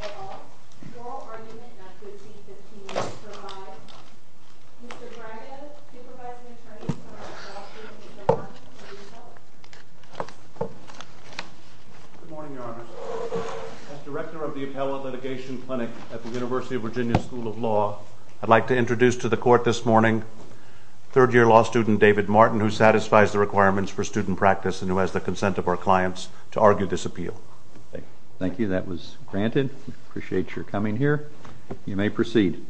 at all, oral argument not to exceed 15 minutes or more. Mr. Gragas, Supervising Attorney for our Law School in the Department of the Appellate. Good morning, Your Honor. As Director of the Appellate Litigation Clinic at the University of Virginia School of Law, I'd like to introduce to the Court this morning third-year law student David Martin, who satisfies the requirements for student practice and who has the consent of our clients to argue this appeal. Thank you. That was granted. I appreciate your coming here. You may proceed.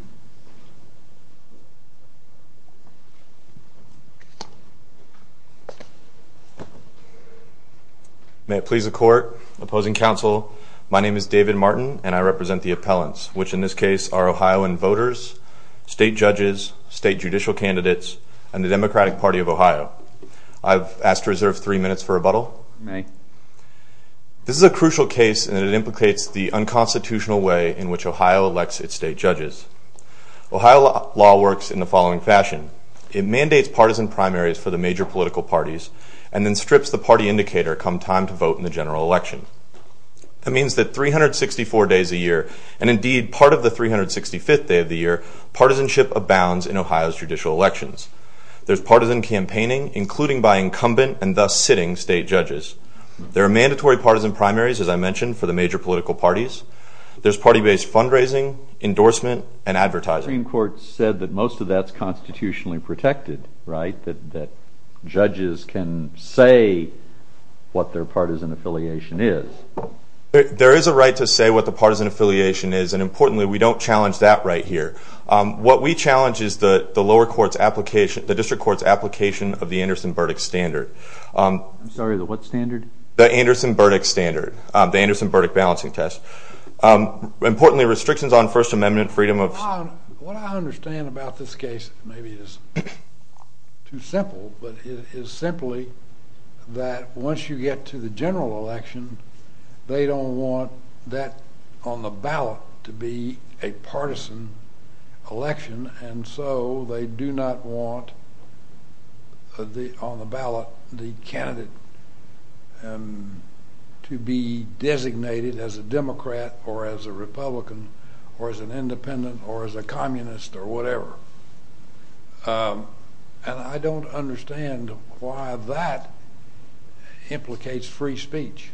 May it please the Court, Opposing Counsel, my name is David Martin and I represent the appellants, which in this case are Ohioan voters, state judges, state judicial candidates, and the Democratic Party of Ohio. I've asked to reserve three minutes for rebuttal. You may. This is a crucial case and it implicates the unconstitutional way in which Ohio elects its state judges. Ohio law works in the following fashion. It mandates partisan primaries for the major political parties and then strips the party And indeed, part of the 365th day of the year, partisanship abounds in Ohio's judicial elections. There's partisan campaigning, including by incumbent and thus sitting state judges. There are mandatory partisan primaries, as I mentioned, for the major political parties. There's party-based fundraising, endorsement, and advertising. The Supreme Court said that most of that's constitutionally protected, right? That judges can say what their partisan affiliation is. There is a right to say what the partisan affiliation is, and importantly, we don't challenge that right here. What we challenge is the lower court's application, the district court's application of the Anderson-Burdick standard. I'm sorry, the what standard? The Anderson-Burdick standard, the Anderson-Burdick balancing test. Importantly, restrictions on First Amendment freedom of... What I understand about this case, maybe it's too simple, but it is simply that once you get to the general election, they don't want that on the ballot to be a partisan election, and so they do not want on the ballot the candidate to be designated as a Democrat or as a Republican or as an Independent or as a Communist or Republican. Why that implicates free speech.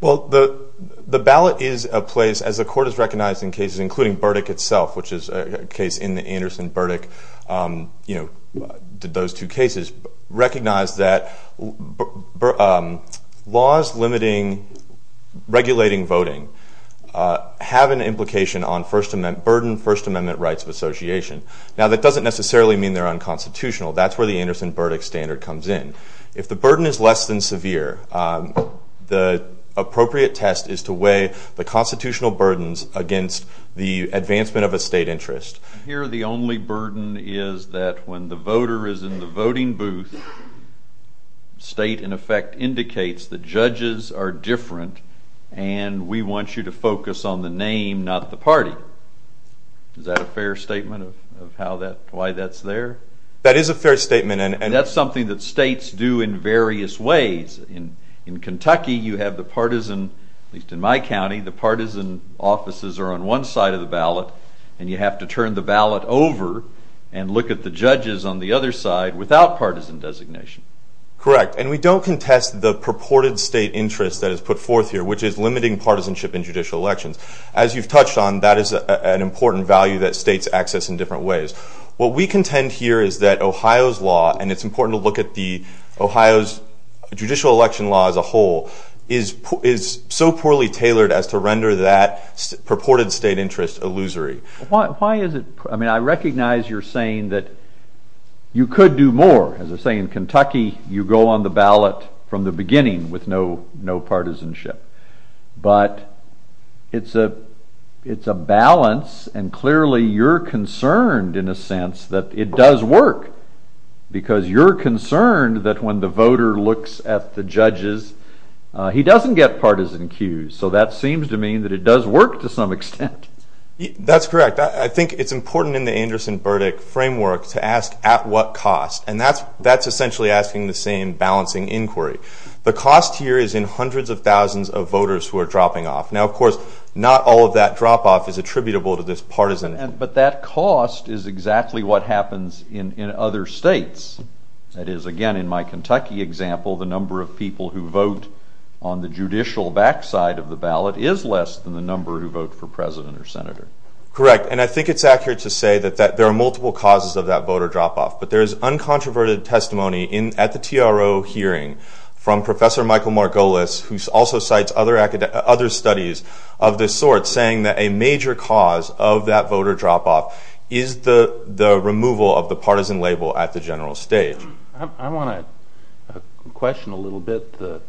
Well, the ballot is a place, as the court has recognized in cases including Burdick itself, which is a case in the Anderson-Burdick, you know, those two cases, recognize that laws limiting, regulating voting have an implication on First Amendment, burden First Amendment rights of association. Now, that doesn't necessarily mean they're unconstitutional. That's where the Anderson-Burdick standard comes in. If the burden is less than severe, the appropriate test is to weigh the constitutional burdens against the advancement of a state interest. Here, the only burden is that when the voter is in the voting booth, state in effect indicates the judges are different and we want you to fair statement. And that's something that states do in various ways. In Kentucky, you have the partisan, at least in my county, the partisan offices are on one side of the ballot and you have to turn the ballot over and look at the judges on the other side without partisan designation. Correct. And we don't contest the purported state interest that is put forth here, which is limiting partisanship in judicial elections. As you've touched on, that is an important value that we contend here is that Ohio's law, and it's important to look at the Ohio's judicial election law as a whole, is so poorly tailored as to render that purported state interest illusory. Why is it? I mean, I recognize you're saying that you could do more. As I say, in Kentucky, you go on the ballot from the beginning with no partisanship. But it's a balance and clearly you're concerned in a sense that it does work. Because you're concerned that when the voter looks at the judges, he doesn't get partisan cues. So that seems to mean that it does work to some extent. That's correct. I think it's important in the Anderson-Burdick framework to ask at what cost, and that's essentially asking the same balancing inquiry. The cost here is in hundreds of thousands of voters who are dropping off. Now, of course, not all of that drop-off is attributable to this but that cost is exactly what happens in other states. That is, again, in my Kentucky example, the number of people who vote on the judicial backside of the ballot is less than the number who vote for president or senator. Correct, and I think it's accurate to say that there are multiple causes of that voter drop-off. But there is uncontroverted testimony at the TRO hearing from Professor Michael Margolis, who also cites other studies of this sort, saying that a major cause of that voter drop-off is the removal of the partisan label at the general stage. I want to question a little bit the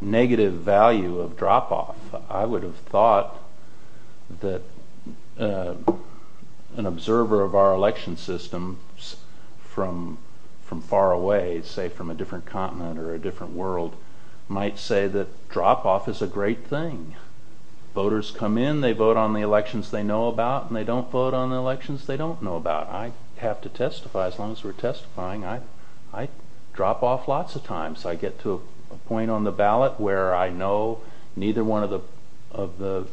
negative value of drop-off. I would have thought that an observer of our election system from far away, say from a different continent or a different thing, voters come in, they vote on the elections they know about, and they don't vote on the elections they don't know about. I have to testify. As long as we're testifying, I drop off lots of times. I get to a point on the ballot where I know neither one of the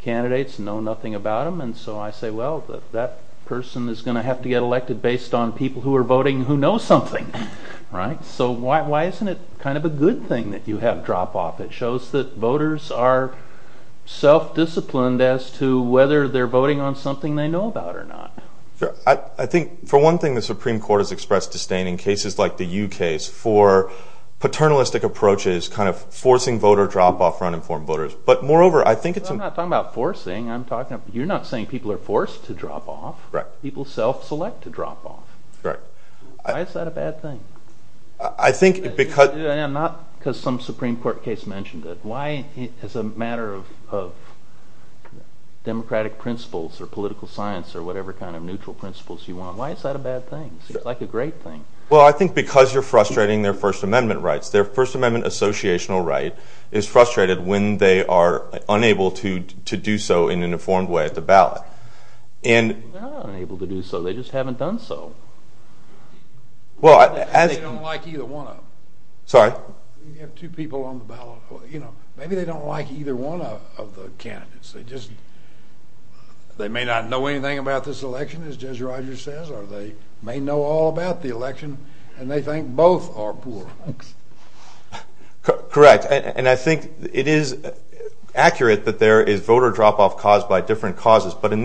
candidates know nothing about them, and so I say, well, that person is going to have to get elected based on people who are voting who know something, right? So why isn't it kind of a good thing that you have drop-off? It shows that voters are self-disciplined as to whether they're voting on something they know about or not. I think, for one thing, the Supreme Court has expressed disdain in cases like the U.K.'s for paternalistic approaches, kind of forcing voter drop-off for uninformed voters. But moreover, I think it's... I'm not talking about forcing, I'm talking about, you're not saying people are forced to drop-off. Correct. People self-select to drop-off. Correct. Why is that a bad thing? I think because... Not because some Supreme Court case mentioned it. Why, as a matter of democratic principles or political science or whatever kind of neutral principles you want, why is that a bad thing? It's like a great thing. Well, I think because you're frustrating their First Amendment rights. Their First Amendment associational right is frustrated when they are unable to do so in an informed way at the ballot. And... They're not unable to do so, they just haven't done so. Well, as... They don't like either one of them. Sorry? You have two people on the ballot, you know, maybe they don't like either one of the candidates. They just... They may not know anything about this election, as Jez Rogers says, or they may know all about the election, and they think both are poor. Correct. And I think it is accurate that there is voter drop-off caused by one controverted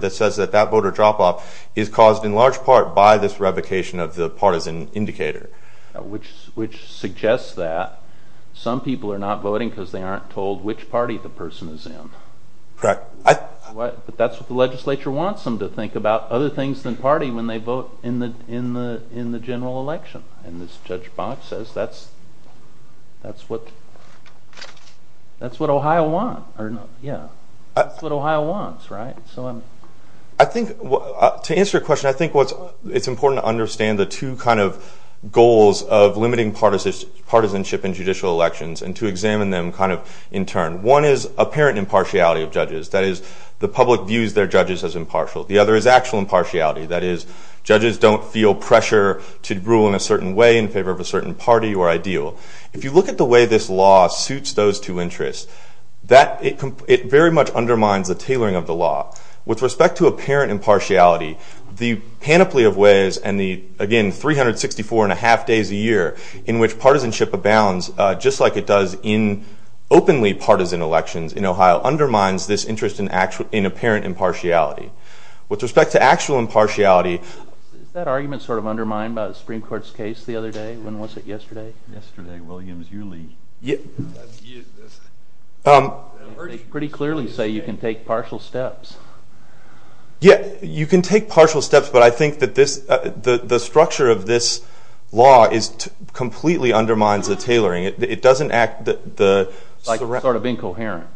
that says that that voter drop-off is caused in large part by this revocation of the partisan indicator. Which suggests that some people are not voting because they aren't told which party the person is in. Correct. But that's what the legislature wants them to think about, other things than party, when they vote in the general election. And this Judge Bott says that's... That's what... That's what Ohio wants, right? I think, to answer your question, I think what's... It's important to understand the two kind of goals of limiting partisanship in judicial elections, and to examine them kind of in turn. One is apparent impartiality of judges, that is, the public views their judges as in favor of a certain way, in favor of a certain party or ideal. If you look at the way this law suits those two interests, that... It very much undermines the tailoring of the law. With respect to apparent impartiality, the panoply of ways and the, again, 364 and a half days a year in which partisanship abounds, just like it does in openly partisan elections in Ohio, undermines this interest in apparent impartiality. With respect to actual impartiality... Is that argument sort of undermined by the Supreme Court's case the other day? When was it, yesterday? Yesterday, Williams Yearly. They pretty clearly say you can take partial steps. Yeah, you can take partial steps, but I think that this... The structure of this law is... Completely undermines the tailoring. It doesn't act... Like sort of incoherent.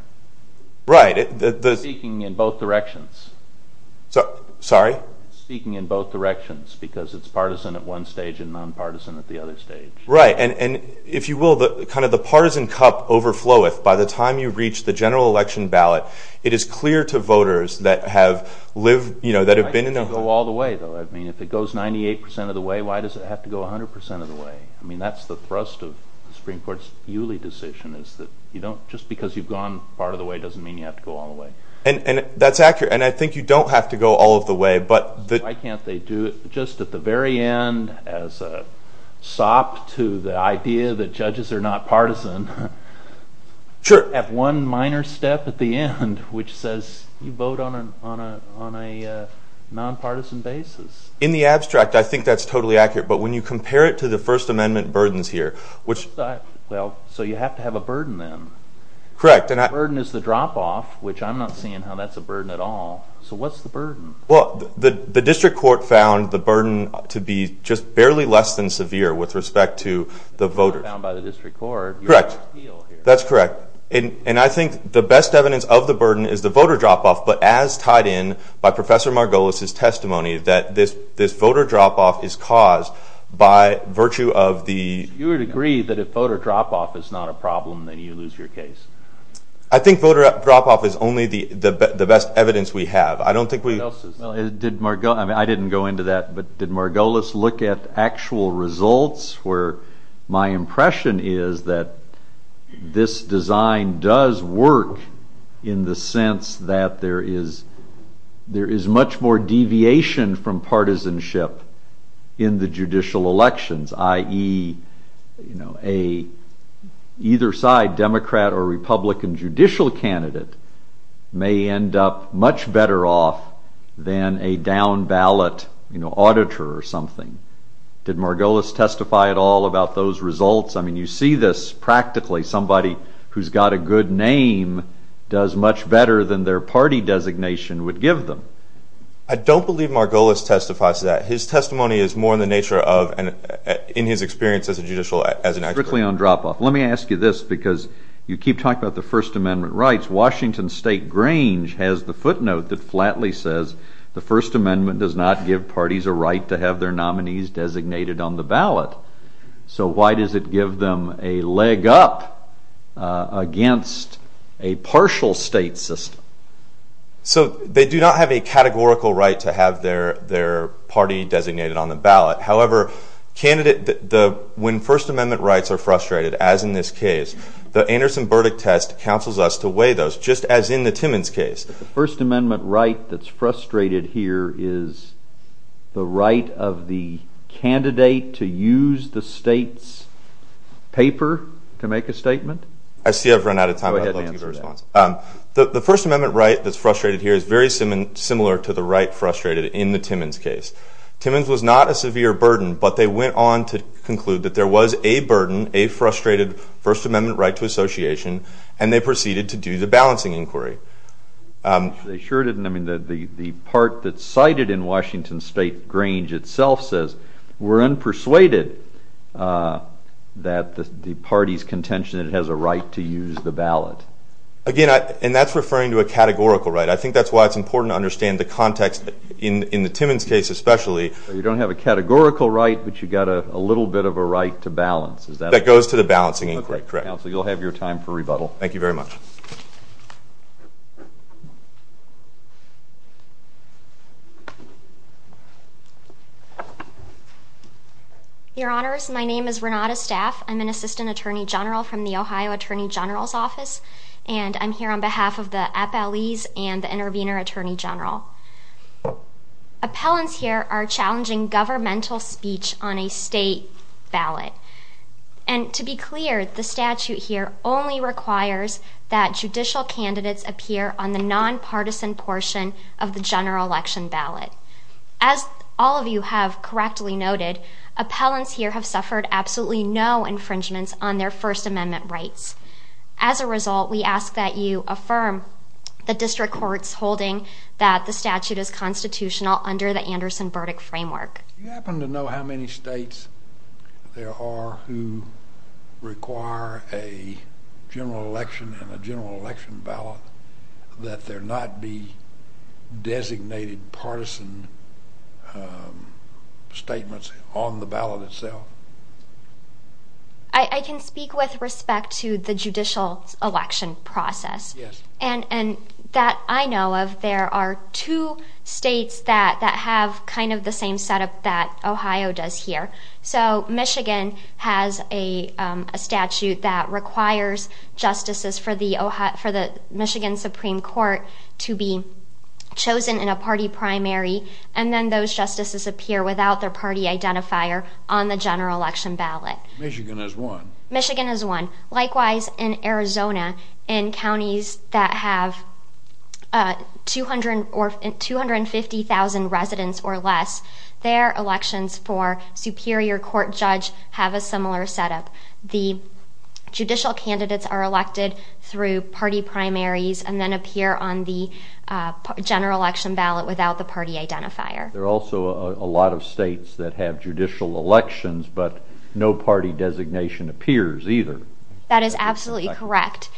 Right. Speaking in both directions. Sorry? Speaking in both directions, because it's partisan at one stage and non-partisan at the other stage. Right, and if you will, kind of the partisan cup overflows. By the time you reach the general election ballot, it is clear to voters that have lived, you know, that have been... Why does it have to go all the way, though? I mean, if it goes 98% of the way, why does it have to go 100% of the way? I mean, that's the thrust of the Supreme Court's Yuley decision, is that you don't... Just because you've gone part of the way doesn't mean you have to go all the way. And that's accurate, and I think you don't have to go all of the way, but... Why can't they do it just at the very end, as a sop to the idea that judges are not partisan? Sure. At one minor step at the end, which says you vote on a non-partisan basis. In the abstract, I think that's totally accurate, but when you compare it to the First Amendment burdens here, which... Well, so you have to have a burden, then. Correct, and I... The burden is the drop-off, which I'm not seeing how that's a burden at all. So what's the burden? Well, the District Court found the burden to be just barely less than severe with respect to the voters. Correct. That's correct. And I think the best evidence of the burden is the voter drop-off, but as tied in by Professor Margolis' testimony, that this voter drop-off is caused by virtue of the... You would agree that if voter drop-off is not a problem, then you lose your case. I think voter drop-off is only the best evidence we have. I don't think we... What else is there? Well, did Margolis... I mean, I didn't go into that, but did Margolis look at actual results where my impression is that this design does work in the sense that there is much more deviation from partisanship in the judicial elections, i.e. either side, Democrat or Republican than a down-ballot, you know, auditor or something? Did Margolis testify at all about those results? I mean, you see this practically. Somebody who's got a good name does much better than their party designation would give them. I don't believe Margolis testifies to that. His testimony is more in the nature of, in his experience as a judicial... Strictly on drop-off. Let me ask you this, because you keep talking about the First Amendment rights. Washington State Grange has the footnote that flatly says the First Amendment does not give parties a right to have their nominees designated on the ballot. So why does it give them a leg up against a partial state system? So they do not have a categorical right to have their party designated on the ballot. However, candidate... When First Amendment rights are frustrated, as in this case, the Anderson verdict test counsels us to weigh those, just as in the Timmons case. The First Amendment right that's frustrated here is the right of the candidate to use the state's paper to make a statement? I see I've run out of time, but I'd love to get a response. Go ahead and answer that. The First Amendment right that's frustrated here is very similar to the right frustrated in the Timmons case. Timmons was not a severe burden, but they went on to conclude that there was a burden, a frustrated First Amendment right to association, and they proceeded to do the balancing inquiry. They sure didn't. I mean, the part that's cited in Washington State Grange itself says, we're unpersuaded that the party's contention that it has a right to use the ballot. Again, and that's referring to a categorical right. I think that's why it's important to understand the context in the Timmons case especially. You don't have a categorical right, but you've got a little bit of a right to balance. That goes to the balancing inquiry, correct. Okay, counsel, you'll have your time for rebuttal. Thank you very much. Your Honors, my name is Renata Staff. I'm an assistant attorney general from the Ohio Attorney General's office, and I'm here on behalf of the appellees and the intervener attorney general. Appellants here are challenging governmental speech on a state ballot. And to be clear, the statute here only requires that judicial candidates appear on the nonpartisan portion of the general election ballot. As all of you have correctly noted, appellants here have suffered absolutely no infringements on their First Amendment rights. As a result, we ask that you affirm the district court's holding that the statute is constitutional under the Anderson-Burdick framework. Do you happen to know how many states there are who require a general election and a general election ballot that there not be designated partisan statements on the ballot itself? I can speak with respect to the judicial election process. Yes. And that I know of, there are two states that have kind of the same setup that Ohio does here. So Michigan has a statute that requires justices for the Michigan Supreme Court to be chosen in a party primary, and then those justices appear without their party identifier on the general election ballot. Michigan has one. Michigan has one. Likewise, in Arizona, in counties that have 250,000 residents or less, their elections for superior court judge have a similar setup. The judicial candidates are elected through party primaries and then appear on the general election ballot without the party identifier. There are also a lot of states that have judicial elections, but no party designation appears either. That is absolutely correct.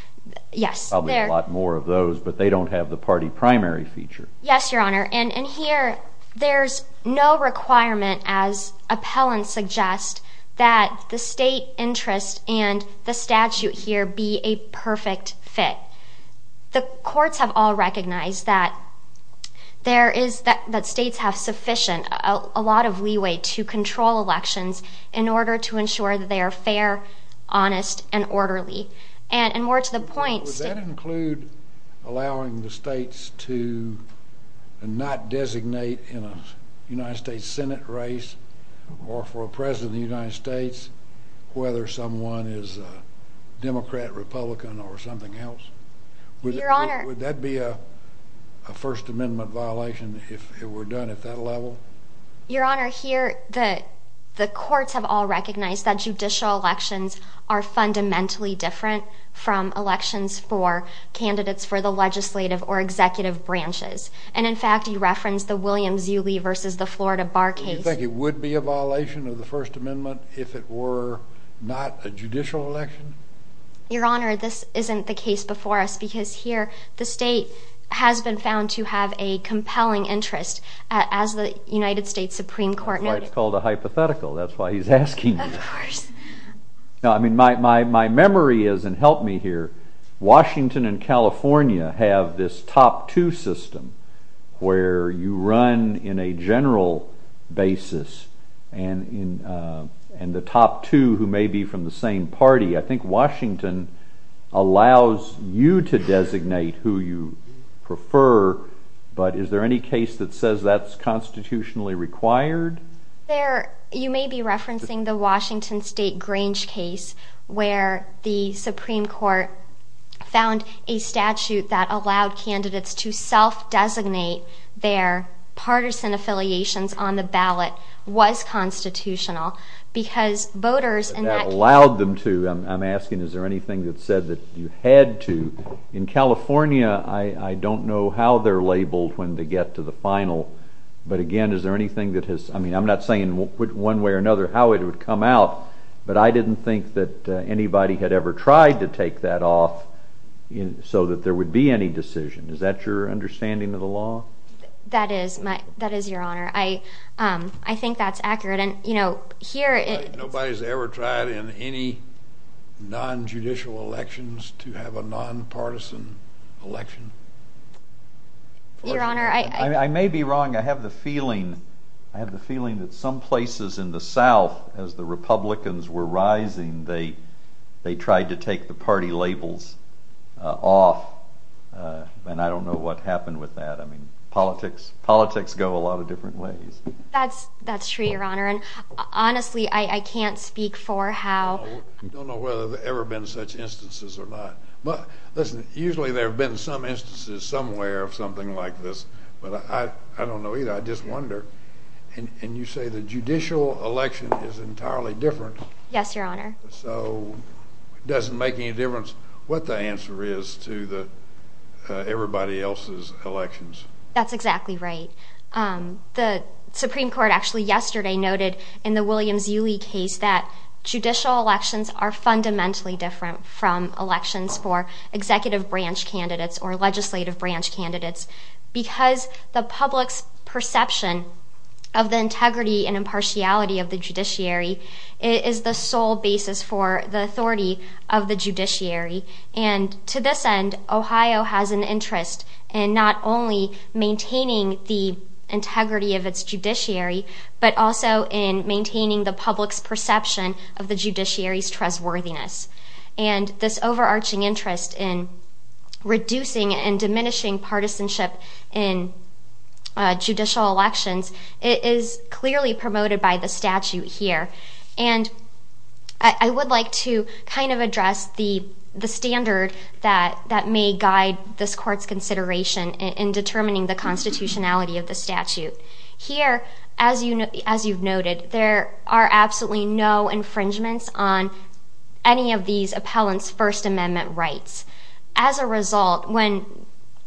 Yes. Probably a lot more of those, but they don't have the party primary feature. Yes, Your Honor. And here there's no requirement, as appellants suggest, that the state interest and the statute here be a perfect fit. The courts have all recognized that states have sufficient, a lot of leeway to control elections in order to ensure that they are fair, honest, and orderly. And more to the point, states. Would that include allowing the states to not designate in a United States Senate race or for a president of the United States whether someone is a Democrat, Republican, or something else? Your Honor. Would that be a First Amendment violation if it were done at that level? Your Honor, here the courts have all recognized that judicial elections are fundamentally different from elections for candidates for the legislative or executive branches. And, in fact, you referenced the William Zulie versus the Florida Bar case. Do you think it would be a violation of the First Amendment if it were not a judicial election? Your Honor, this isn't the case before us because here the state has been found to have a compelling interest as the United States Supreme Court noted. That's why it's called a hypothetical. That's why he's asking you. Of course. My memory is, and help me here, Washington and California have this top two system where you run in a general basis and the top two who may be from the same party. I think Washington allows you to designate who you prefer, but is there any case that says that's constitutionally required? You may be referencing the Washington State Grange case where the Supreme Court found a statute that allowed candidates to self-designate their partisan affiliations on the ballot was constitutional because voters in that case... That allowed them to. I'm asking is there anything that said that you had to. In California, I don't know how they're labeled when they get to the final, but, again, is there anything that has... I mean, I'm not saying one way or another how it would come out, but I didn't think that anybody had ever tried to take that off so that there would be any decision. Is that your understanding of the law? That is, Your Honor. I think that's accurate. Nobody's ever tried in any non-judicial elections to have a non-partisan election. Your Honor, I... I may be wrong. I have the feeling that some places in the South, as the Republicans were rising, they tried to take the party labels off, and I don't know what happened with that. I mean, politics go a lot of different ways. That's true, Your Honor. Honestly, I can't speak for how... I don't know whether there have ever been such instances or not. Listen, usually there have been some instances somewhere of something like this, but I don't know either. I just wonder. And you say the judicial election is entirely different. Yes, Your Honor. So it doesn't make any difference what the answer is to everybody else's elections. That's exactly right. The Supreme Court actually yesterday noted in the Williams-Uli case that judicial elections are fundamentally different from elections for executive branch candidates or legislative branch candidates because the public's perception of the integrity and impartiality of the judiciary is the sole basis for the authority of the judiciary. And to this end, Ohio has an interest in not only maintaining the integrity of its judiciary, but also in maintaining the public's perception of the judiciary's trustworthiness. And this overarching interest in reducing and diminishing partisanship in judicial elections is clearly promoted by the statute here. And I would like to kind of address the standard that may guide this Court's consideration in determining the constitutionality of the statute. Here, as you've noted, there are absolutely no infringements on any of these appellants' First Amendment rights. As a result, when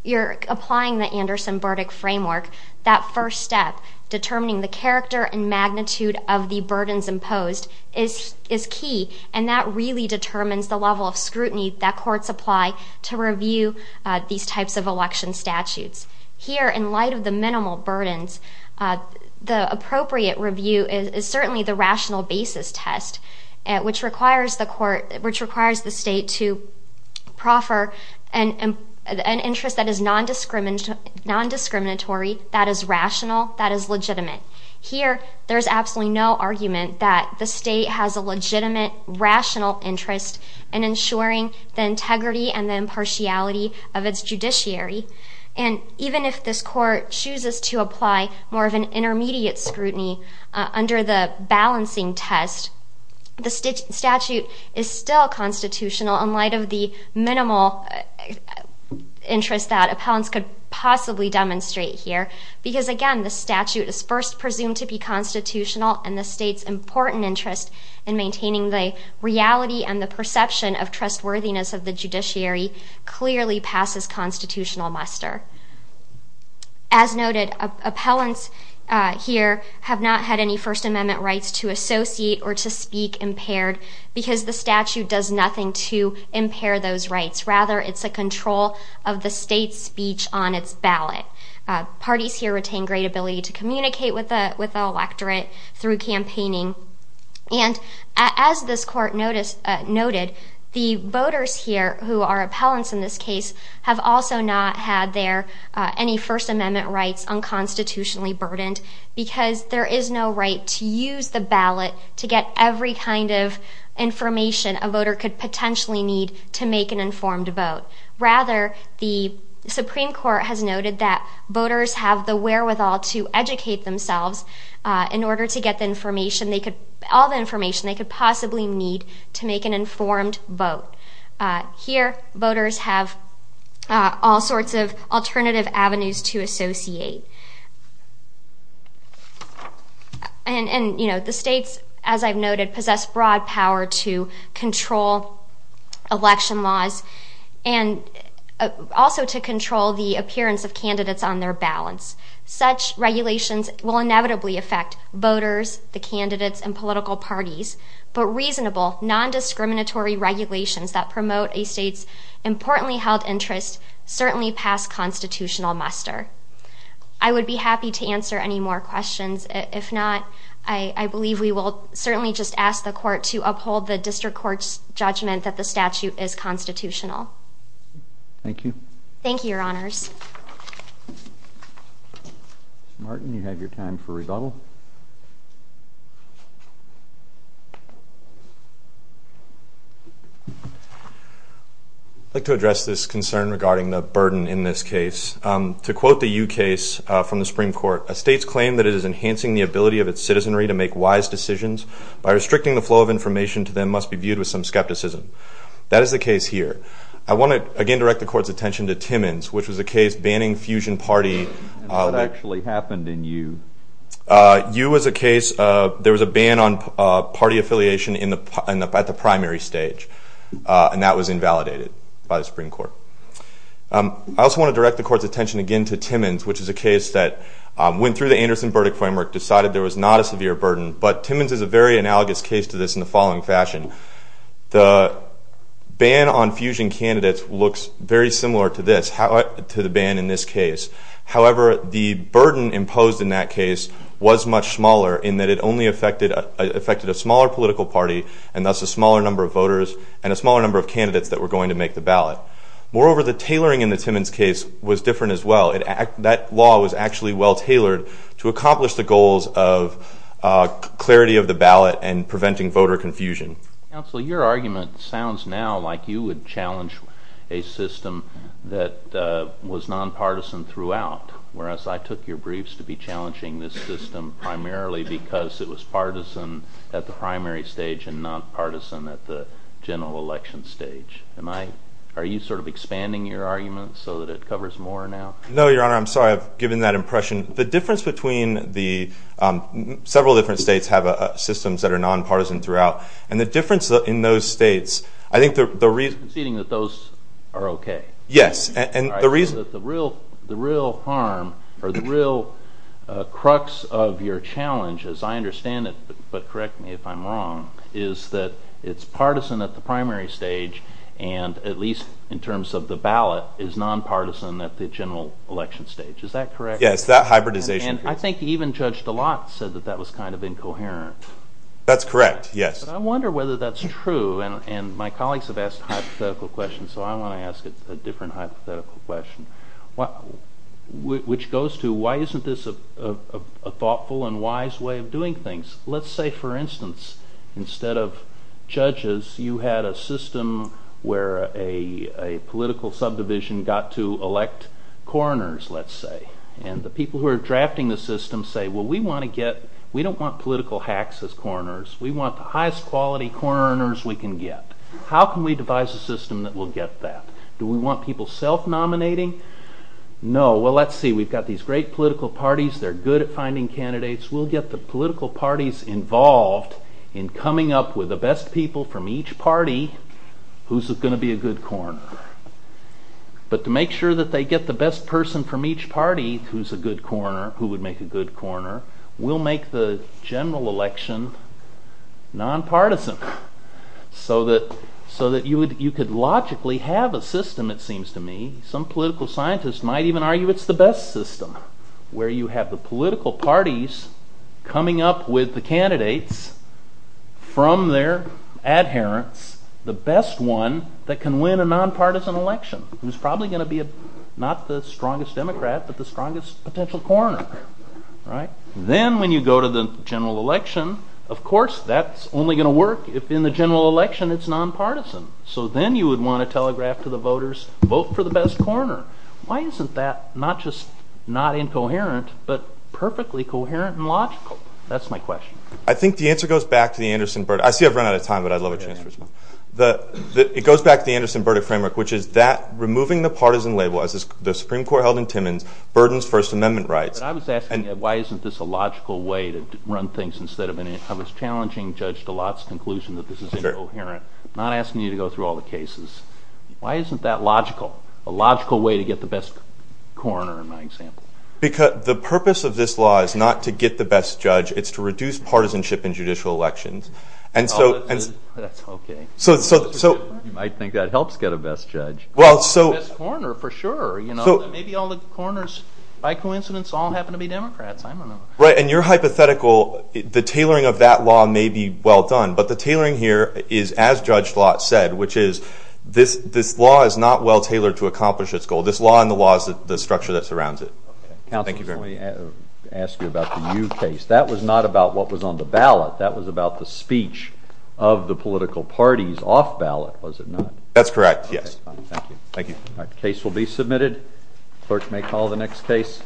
you're applying the Anderson-Burdick framework, that first step, determining the character and magnitude of the burdens imposed, is key. And that really determines the level of scrutiny that courts apply to review these types of election statutes. Here, in light of the minimal burdens, the appropriate review is certainly the rational basis test, which requires the state to proffer an interest that is non-discriminatory, that is rational, that is legitimate. Here, there is absolutely no argument that the state has a legitimate, rational interest in ensuring the integrity and impartiality of its judiciary. And even if this Court chooses to apply more of an intermediate scrutiny under the balancing test, the statute is still constitutional in light of the minimal interest that appellants could possibly demonstrate here. Because, again, the statute is first presumed to be constitutional and the state's important interest in maintaining the reality and the perception of trustworthiness of the judiciary clearly passes constitutional muster. As noted, appellants here have not had any First Amendment rights to associate or to speak impaired because the statute does nothing to impair those rights. Rather, it's a control of the state's speech on its ballot. Parties here retain great ability to communicate with the electorate through campaigning. And as this Court noted, the voters here who are appellants in this case have also not had their any First Amendment rights unconstitutionally burdened because there is no right to use the ballot to get every kind of information a voter could potentially need to make an informed vote. Rather, the Supreme Court has noted that voters have the wherewithal to educate themselves in order to get all the information they could possibly need to make an informed vote. Here, voters have all sorts of alternative avenues to associate. And, you know, the states, as I've noted, possess broad power to control election laws and also to control the appearance of candidates on their balance. Such regulations will inevitably affect voters, the candidates, and political parties, but reasonable, non-discriminatory regulations that promote a state's importantly held interest certainly pass constitutional muster. I would be happy to answer any more questions. If not, I believe we will certainly just ask the Court to uphold the District Court's judgment that the statute is constitutional. Thank you. Thank you, Your Honors. Mr. Martin, you have your time for rebuttal. I'd like to address this concern regarding the burden in this case. To quote the Yu case from the Supreme Court, a state's claim that it is enhancing the ability of its citizenry to make wise decisions by restricting the flow of information to them must be viewed with some skepticism. That is the case here. I want to, again, direct the Court's attention to Timmins, which was a case banning Fusion Party. What actually happened in Yu? Yu was a case of there was a ban on party affiliation at the primary stage, and that was invalidated by the Supreme Court. I also want to direct the Court's attention again to Timmins, which is a case that went through the Anderson verdict framework, decided there was not a severe burden. But Timmins is a very analogous case to this in the following fashion. The ban on Fusion candidates looks very similar to this, to the ban in this case. However, the burden imposed in that case was much smaller in that it only affected a smaller political party, and thus a smaller number of voters and a smaller number of candidates that were going to make the ballot. Moreover, the tailoring in the Timmins case was different as well. That law was actually well tailored to accomplish the goals of clarity of the ballot and preventing voter confusion. Counsel, your argument sounds now like you would challenge a system that was nonpartisan throughout, whereas I took your briefs to be challenging this system primarily because it was partisan at the primary stage and nonpartisan at the general election stage. Are you sort of expanding your argument so that it covers more now? No, Your Honor. I'm sorry. I've given that impression. The difference between the—several different states have systems that are nonpartisan throughout, and the difference in those states— I'm conceding that those are okay. Yes, and the reason— The real harm or the real crux of your challenge, as I understand it, but correct me if I'm wrong, is that it's partisan at the primary stage and, at least in terms of the ballot, is nonpartisan at the general election stage. Is that correct? Yes, that hybridization. And I think even Judge DeLotte said that that was kind of incoherent. That's correct, yes. I wonder whether that's true, and my colleagues have asked hypothetical questions, so I want to ask a different hypothetical question, which goes to why isn't this a thoughtful and wise way of doing things? Let's say, for instance, instead of judges, you had a system where a political subdivision got to elect coroners, let's say, and the people who are drafting the system say, well, we don't want political hacks as coroners. We want the highest quality coroners we can get. How can we devise a system that will get that? Do we want people self-nominating? No. Well, let's see. We've got these great political parties. They're good at finding candidates. We'll get the political parties involved in coming up with the best people from each party who's going to be a good coroner. But to make sure that they get the best person from each party who's a good coroner, who would make a good coroner, we'll make the general election nonpartisan so that you could logically have a system, it seems to me. Some political scientists might even argue it's the best system, where you have the political parties coming up with the candidates from their adherents, the best one that can win a nonpartisan election, who's probably going to be not the strongest Democrat, but the strongest potential coroner. Then when you go to the general election, of course that's only going to work if in the general election it's nonpartisan. So then you would want to telegraph to the voters, vote for the best coroner. Why isn't that not just not incoherent, but perfectly coherent and logical? That's my question. I think the answer goes back to the Anderson-Burdick. I see I've run out of time, but I'd love a chance for this one. It goes back to the Anderson-Burdick framework, which is that removing the partisan label, as the Supreme Court held in Timmins, burdens First Amendment rights. I was asking you why isn't this a logical way to run things instead of I was challenging Judge DeLotte's conclusion that this is incoherent, not asking you to go through all the cases. Why isn't that logical? A logical way to get the best coroner, in my example. The purpose of this law is not to get the best judge. It's to reduce partisanship in judicial elections. That's okay. You might think that helps get a best judge. The best coroner, for sure. Maybe all the coroners, by coincidence, all happen to be Democrats. You're hypothetical. The tailoring of that law may be well done, but the tailoring here is, as Judge DeLotte said, which is this law is not well tailored to accomplish its goal. This law and the laws, the structure that surrounds it. Thank you very much. Counsel, let me ask you about the Yu case. That was not about what was on the ballot. That was about the speech of the political parties off ballot, was it not? That's correct, yes. Thank you. The case will be submitted. The clerk may call the next case.